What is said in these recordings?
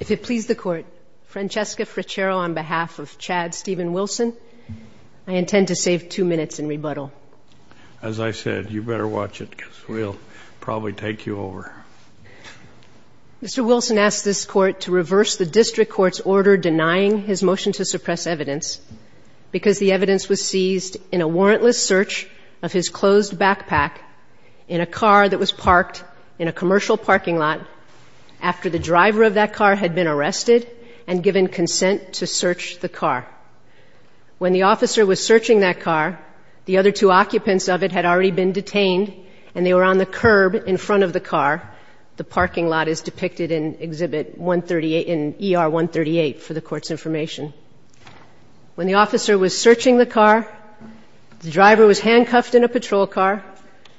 If it please the court, Francesca Frichero on behalf of Chad Stephen Wilson, I intend to save two minutes and rebuttal. As I said, you better watch it because we'll probably take you over. Mr. Wilson asked this court to reverse the district court's order denying his motion to suppress evidence because the evidence was seized in a warrantless search of his closed backpack in a car that was parked in a commercial parking lot after the driver of that car had been arrested and given consent to search the car. When the officer was searching that car, the other two occupants of it had already been detained and they were on the curb in front of the car. The parking lot is depicted in exhibit 138, in ER 138 for the court's information. When the officer was searching the car, the driver was handcuffed in a patrol car.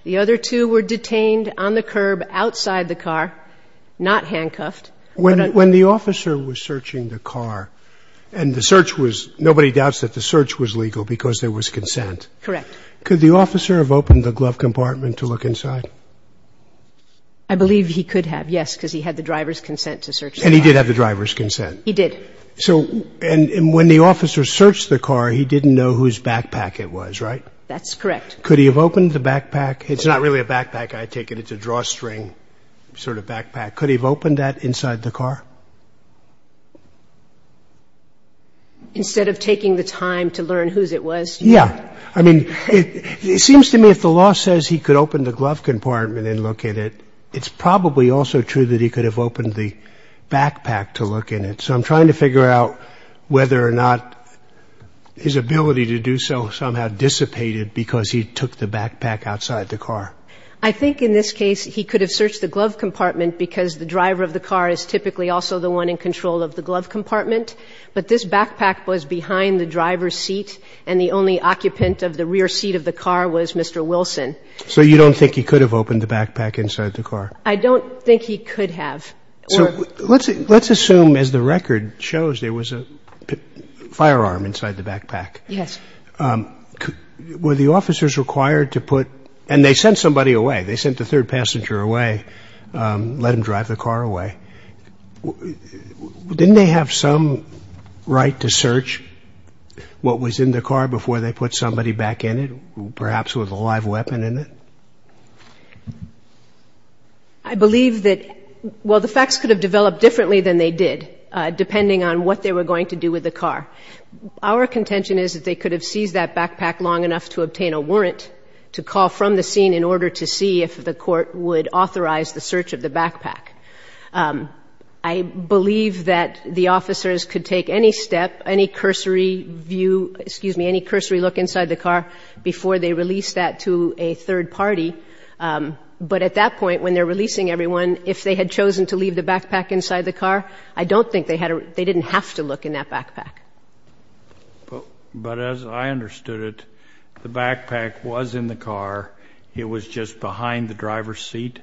The other two were detained on the curb outside the car, not handcuffed. When the officer was searching the car and the search was – nobody doubts that the search was legal because there was consent. Correct. Could the officer have opened the glove compartment to look inside? I believe he could have, yes, because he had the driver's consent to search the car. And he did have the driver's consent? He did. So – and when the officer searched the car, he didn't know whose backpack it was, right? That's correct. Could he have opened the backpack? It's not really a backpack, I take it. It's a drawstring sort of backpack. Could he have opened that inside the car? Instead of taking the time to learn whose it was? Yeah. I mean, it seems to me if the law says he could open the glove compartment and look in it, it's probably also true that he could have opened the backpack to look in it. So I'm trying to figure out whether or not his ability to do so somehow dissipated because he took the backpack outside the car. I think in this case he could have searched the glove compartment because the driver of the car is typically also the one in control of the glove compartment. But this backpack was behind the driver's seat, and the only occupant of the rear seat of the car was Mr. Wilson. So you don't think he could have opened the backpack inside the car? I don't think he could have. So let's assume, as the record shows, there was a firearm inside the backpack. Yes. Were the officers required to put – and they sent somebody away. They sent the third passenger away, let him drive the car away. Didn't they have some right to search what was in the car before they put somebody back in it, perhaps with a live weapon in it? I believe that – well, the facts could have developed differently than they did, depending on what they were going to do with the car. Our contention is that they could have seized that backpack long enough to obtain a warrant to call from the scene in order to see if the court would authorize the search of the backpack. I believe that the officers could take any step, any cursory view – excuse me, any cursory look inside the car before they release that to a third party. But at that point, when they're releasing everyone, if they had chosen to leave the backpack inside the car, I don't think they had – they didn't have to look in that backpack. But as I understood it, the backpack was in the car. It was just behind the driver's seat?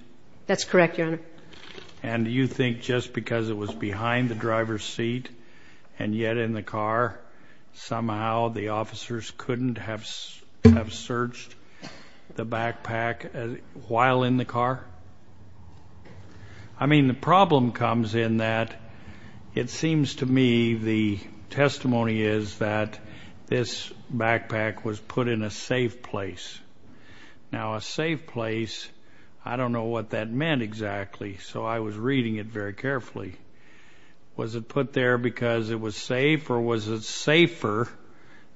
That's correct, Your Honor. And do you think just because it was behind the driver's seat and yet in the car, somehow the officers couldn't have searched the backpack while in the car? I mean, the problem comes in that it seems to me the testimony is that this backpack was put in a safe place. Now, a safe place, I don't know what that meant exactly, so I was reading it very carefully. Was it put there because it was safe, or was it safer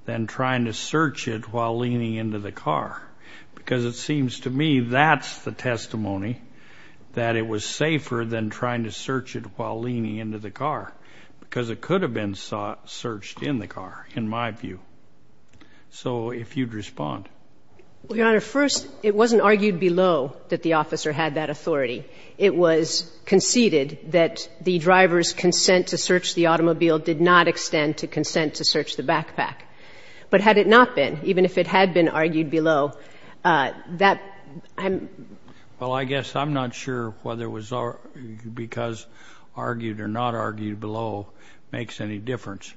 than trying to search it while leaning into the car? Because it seems to me that's the testimony, that it was safer than trying to search it while leaning into the car, because it could have been searched in the car, in my view. So if you'd respond. Well, Your Honor, first, it wasn't argued below that the officer had that authority. It was conceded that the driver's consent to search the automobile did not extend to consent to search the backpack. But had it not been, even if it had been argued below, that I'm — Well, I guess I'm not sure whether it was because argued or not argued below makes any difference.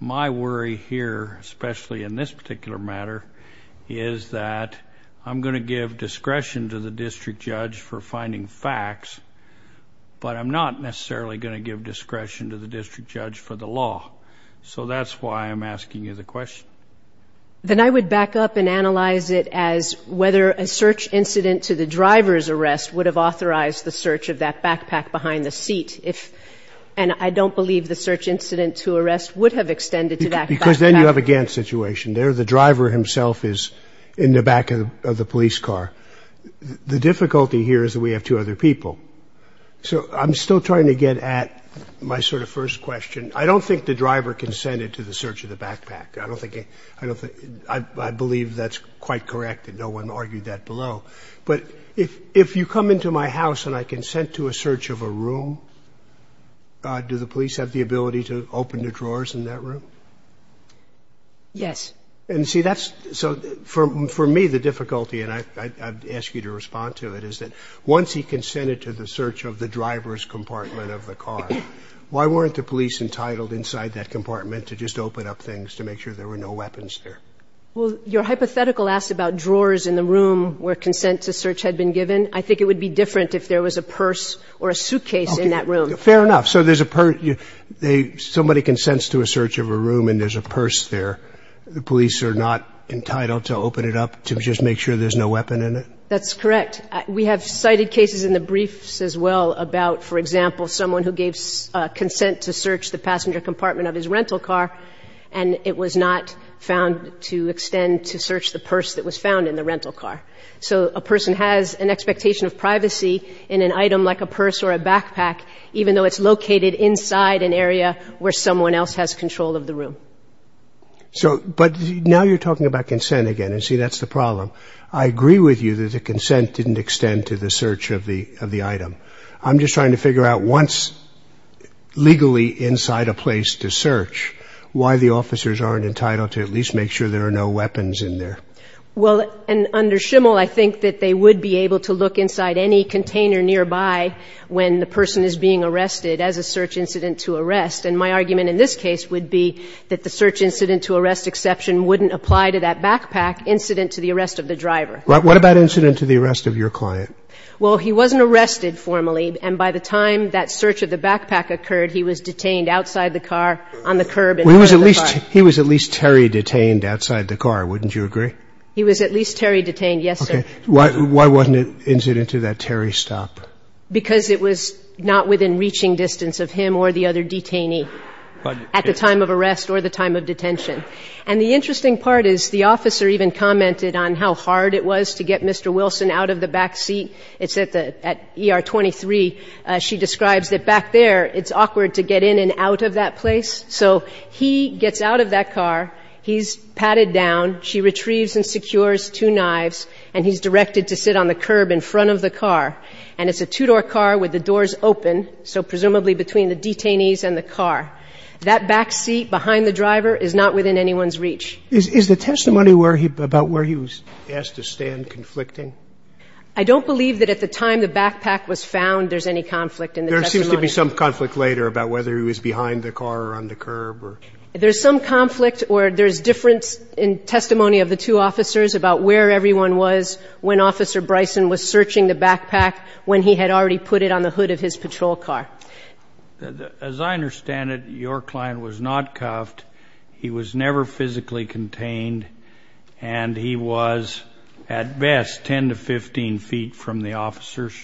My worry here, especially in this particular matter, is that I'm going to give discretion to the district judge for finding facts, but I'm not necessarily going to give discretion to the district judge for the law. So that's why I'm asking you the question. Then I would back up and analyze it as whether a search incident to the driver's arrest would have authorized the search of that backpack behind the seat. And I don't believe the search incident to arrest would have extended to that backpack. Because then you have a Gantt situation there. The driver himself is in the back of the police car. The difficulty here is that we have two other people. So I'm still trying to get at my sort of first question. I don't think the driver consented to the search of the backpack. I believe that's quite correct that no one argued that below. But if you come into my house and I consent to a search of a room, do the police have the ability to open the drawers in that room? Yes. And, see, that's so for me the difficulty, and I'd ask you to respond to it, is that once he consented to the search of the driver's compartment of the car, why weren't the police entitled inside that compartment to just open up things to make sure there were no weapons there? Well, your hypothetical asks about drawers in the room where consent to search had been given. I think it would be different if there was a purse or a suitcase in that room. Okay. Fair enough. So there's a purse. Somebody consents to a search of a room and there's a purse there. The police are not entitled to open it up to just make sure there's no weapon in it? That's correct. We have cited cases in the briefs as well about, for example, someone who gave consent to search the passenger compartment of his rental car, and it was not found to extend to search the purse that was found in the rental car. So a person has an expectation of privacy in an item like a purse or a backpack, even though it's located inside an area where someone else has control of the room. But now you're talking about consent again, and, see, that's the problem. I agree with you that the consent didn't extend to the search of the item. I'm just trying to figure out once legally inside a place to search, why the officers aren't entitled to at least make sure there are no weapons in there. Well, and under Schimel, I think that they would be able to look inside any container nearby when the person is being arrested as a search incident to arrest. And my argument in this case would be that the search incident to arrest exception wouldn't apply to that backpack incident to the arrest of the driver. What about incident to the arrest of your client? Well, he wasn't arrested formally, and by the time that search of the backpack occurred, he was detained outside the car on the curb in front of the car. He was at least Terry detained outside the car, wouldn't you agree? He was at least Terry detained, yes, sir. Okay. Why wasn't it incident to that Terry stop? Because it was not within reaching distance of him or the other detainee at the time of arrest or the time of detention. And the interesting part is the officer even commented on how hard it was to get Mr. Wilson out of the backseat. It's at ER 23. She describes that back there it's awkward to get in and out of that place. So he gets out of that car. He's patted down. She retrieves and secures two knives, and he's directed to sit on the curb in front of the car. And it's a two-door car with the doors open, so presumably between the detainees and the car. That backseat behind the driver is not within anyone's reach. Is the testimony about where he was asked to stand conflicting? I don't believe that at the time the backpack was found there's any conflict in the testimony. There seems to be some conflict later about whether he was behind the car or on the curb or. There's some conflict or there's difference in testimony of the two officers about where everyone was when Officer Bryson was searching the backpack when he had already put it on the hood of his patrol car. As I understand it, your client was not cuffed. He was never physically contained. And he was at best 10 to 15 feet from the officers.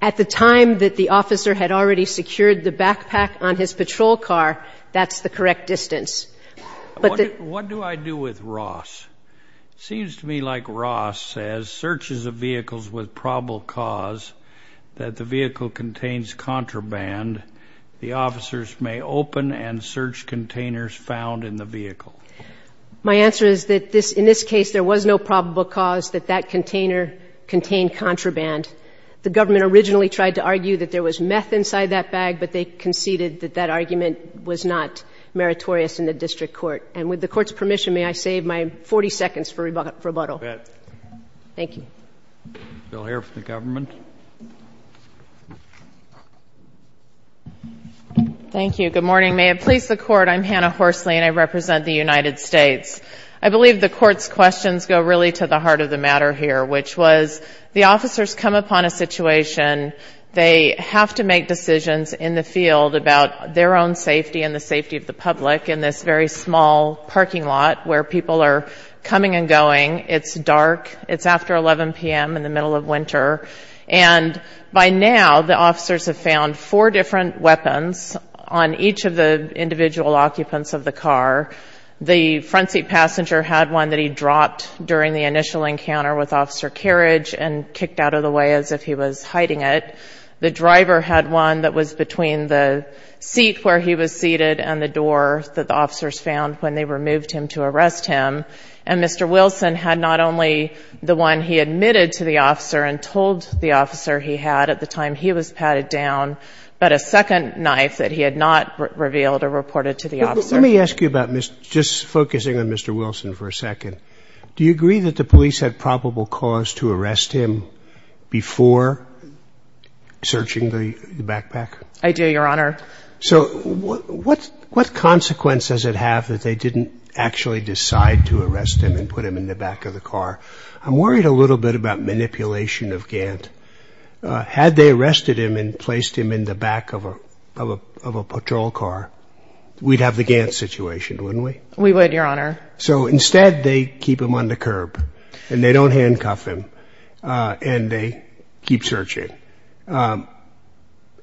At the time that the officer had already secured the backpack on his patrol car. That's the correct distance. But what do I do with Ross? Seems to me like Ross as searches of vehicles with probable cause that the vehicle contains contraband. The officers may open and search containers found in the vehicle. My answer is that in this case there was no probable cause that that container contained contraband. The government originally tried to argue that there was meth inside that bag, but they conceded that that argument was not meritorious in the district court. And with the court's permission, may I save my 40 seconds for rebuttal? You bet. Thank you. Bill Heer for the government. Thank you. Good morning. May it please the court, I'm Hannah Horsley, and I represent the United States. I believe the court's questions go really to the heart of the matter here, which was the officers come upon a situation. They have to make decisions in the field about their own safety and the safety of the public in this very small parking lot where people are coming and going. It's dark. And by now the officers have found four different weapons on each of the individual occupants of the car. The front seat passenger had one that he dropped during the initial encounter with Officer Carriage and kicked out of the way as if he was hiding it. The driver had one that was between the seat where he was seated and the door that the officers found when they removed him to arrest him. And Mr. Wilson had not only the one he admitted to the officer and told the officer he had at the time he was patted down, but a second knife that he had not revealed or reported to the officer. Let me ask you about just focusing on Mr. Wilson for a second. Do you agree that the police had probable cause to arrest him before searching the backpack? I do, Your Honor. So what consequence does it have that they didn't actually decide to arrest him and put him in the back of the car? I'm worried a little bit about manipulation of Gant. Had they arrested him and placed him in the back of a patrol car, we'd have the Gant situation, wouldn't we? We would, Your Honor. So instead they keep him on the curb and they don't handcuff him and they keep searching.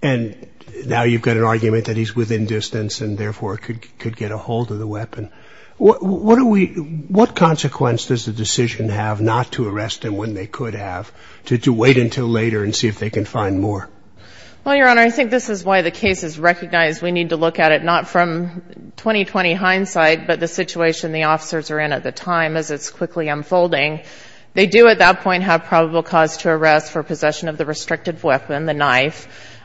And now you've got an argument that he's within distance and therefore could get a hold of the weapon. What consequence does the decision have not to arrest him when they could have to wait until later and see if they can find more? Well, Your Honor, I think this is why the case is recognized. We need to look at it not from 20-20 hindsight, but the situation the officers are in at the time as it's quickly unfolding. They do at that point have probable cause to arrest for possession of the restricted weapon, the knife.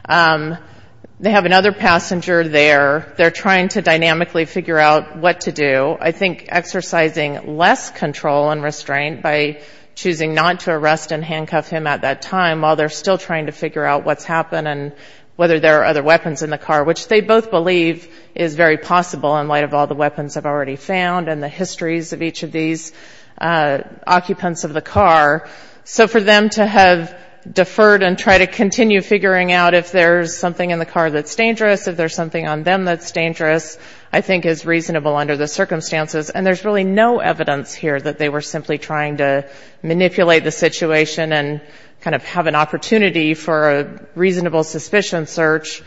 They have another passenger there. They're trying to dynamically figure out what to do. I think exercising less control and restraint by choosing not to arrest and handcuff him at that time while they're still trying to figure out what's happened and whether there are other weapons in the car, which they both believe is very possible in light of all the weapons they've already found and the histories of each of these occupants of the car. So for them to have deferred and try to continue figuring out if there's something in the car that's dangerous, if there's something on them that's dangerous, I think is reasonable under the circumstances. And there's really no evidence here that they were simply trying to manipulate the situation and kind of have an opportunity for a reasonable suspicion search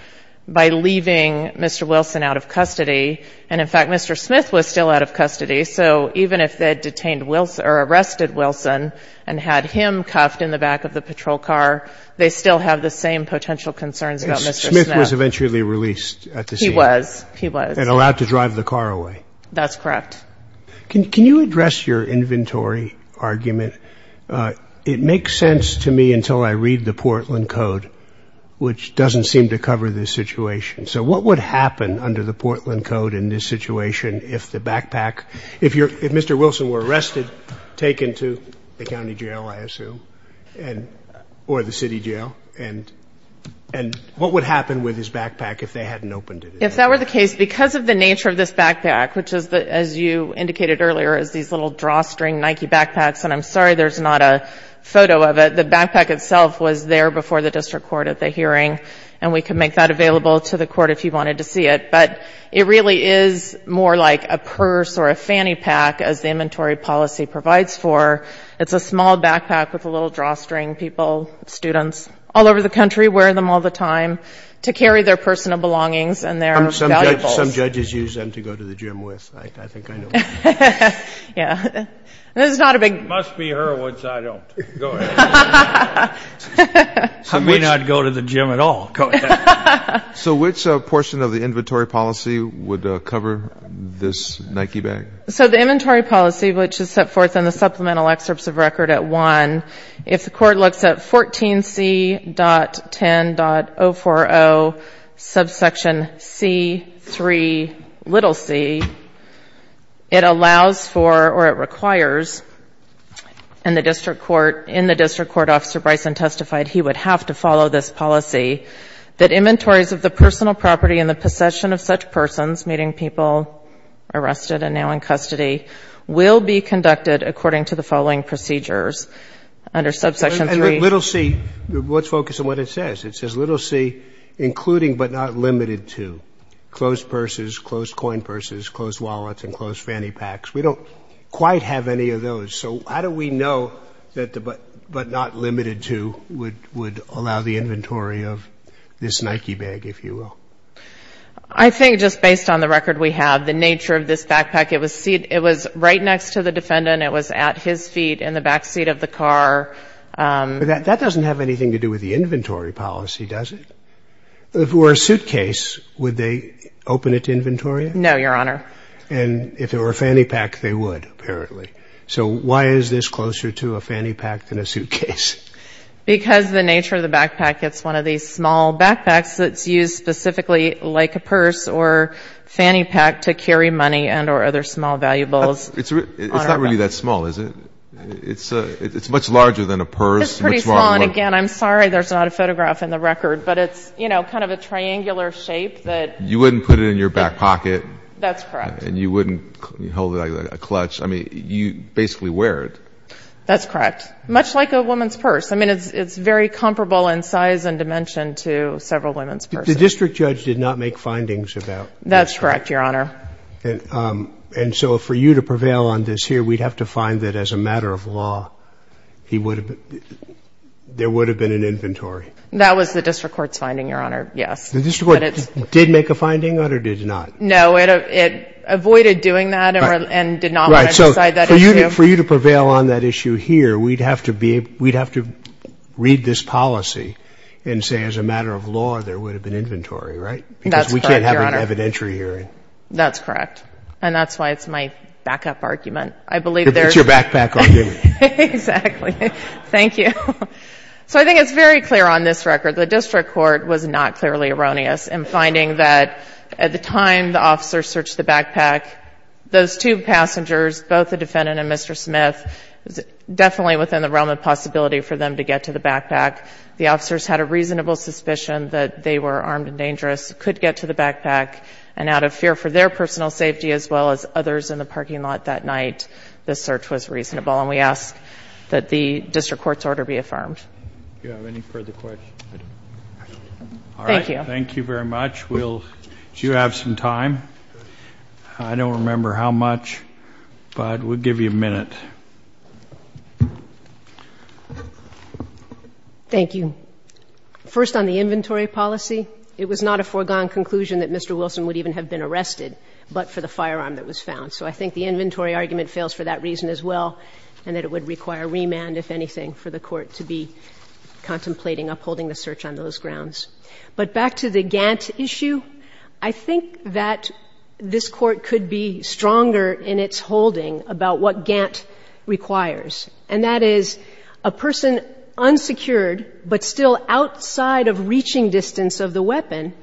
by leaving Mr. Wilson out of custody. And, in fact, Mr. Smith was still out of custody. So even if they had detained Wilson or arrested Wilson and had him cuffed in the back of the patrol car, they still have the same potential concerns about Mr. Smith. Smith was eventually released at the scene. He was. He was. And allowed to drive the car away. That's correct. Can you address your inventory argument? It makes sense to me until I read the Portland Code, which doesn't seem to cover this situation. So what would happen under the Portland Code in this situation if the backpack, if Mr. Wilson were arrested, taken to the county jail, I assume, or the city jail, and what would happen with his backpack if they hadn't opened it? If that were the case, because of the nature of this backpack, which is, as you indicated earlier, is these little drawstring Nike backpacks, and I'm sorry there's not a photo of it, the backpack itself was there before the district court at the hearing, and we can make that available to the court if you wanted to see it. But it really is more like a purse or a fanny pack, as the inventory policy provides for. It's a small backpack with a little drawstring. People, students all over the country wear them all the time to carry their personal belongings and their valuables. Some judges use them to go to the gym with. I think I know. Yeah. This is not a big. It must be her, which I don't. Go ahead. I may not go to the gym at all. So which portion of the inventory policy would cover this Nike bag? So the inventory policy, which is set forth in the supplemental excerpts of record at 1, if the court looks at 14C.10.040 subsection C3c, it allows for or it requires in the district court if a court officer, Bryson, testified he would have to follow this policy, that inventories of the personal property and the possession of such persons, meaning people arrested and now in custody, will be conducted according to the following procedures under subsection 3. And little C, let's focus on what it says. It says little C, including but not limited to closed purses, closed coin purses, closed wallets, and closed fanny packs. We don't quite have any of those. So how do we know that the but not limited to would allow the inventory of this Nike bag, if you will? I think just based on the record we have, the nature of this backpack, it was right next to the defendant, it was at his feet in the back seat of the car. That doesn't have anything to do with the inventory policy, does it? If it were a suitcase, would they open it to inventory? No, Your Honor. And if it were a fanny pack, they would, apparently. So why is this closer to a fanny pack than a suitcase? Because the nature of the backpack, it's one of these small backpacks that's used specifically like a purse or fanny pack to carry money and or other small valuables. It's not really that small, is it? It's much larger than a purse. It's pretty small, and again, I'm sorry there's not a photograph in the record, but it's, you know, kind of a triangular shape. You wouldn't put it in your back pocket. That's correct. And you wouldn't hold it like a clutch. I mean, you basically wear it. That's correct. Much like a woman's purse. I mean, it's very comparable in size and dimension to several women's purses. The district judge did not make findings about this. That's correct, Your Honor. And so for you to prevail on this here, we'd have to find that as a matter of law, there would have been an inventory. That was the district court's finding, Your Honor, yes. The district court did make a finding on it or did not? No, it avoided doing that and did not want to decide that issue. Right. So for you to prevail on that issue here, we'd have to read this policy and say, as a matter of law, there would have been inventory, right? That's correct, Your Honor. Because we can't have an evidentiary hearing. That's correct. And that's why it's my backup argument. It's your backpack argument. Exactly. Thank you. So I think it's very clear on this record. The district court was not clearly erroneous in finding that at the time the officers searched the backpack, those two passengers, both the defendant and Mr. Smith, was definitely within the realm of possibility for them to get to the backpack. The officers had a reasonable suspicion that they were armed and dangerous, could get to the backpack, and out of fear for their personal safety as well as others in the parking lot that night, the search was reasonable. And we ask that the district court's order be affirmed. Do you have any further questions? All right. Thank you. Thank you very much. We'll do have some time. I don't remember how much, but we'll give you a minute. Thank you. First, on the inventory policy, it was not a foregone conclusion that Mr. Wilson would even have been arrested, but for the firearm that was found. So I think the inventory argument fails for that reason as well, and that it would require remand, if anything, for the court to be contemplating upholding the search on those grounds. But back to the Gantt issue, I think that this Court could be stronger in its holding about what Gantt requires, and that is a person unsecured, but still outside of reaching distance of the weapon,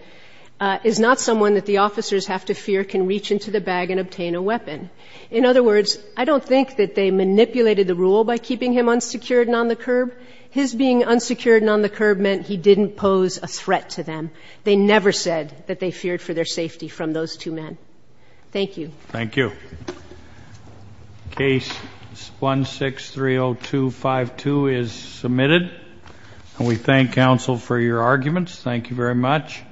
is not someone that the officers have to fear can reach into the bag and obtain a weapon. In other words, I don't think that they manipulated the rule by keeping him unsecured and on the curb. His being unsecured and on the curb meant he didn't pose a threat to them. They never said that they feared for their safety from those two men. Thank you. Thank you. Case 1630252 is submitted. And we thank counsel for your arguments. Thank you very much.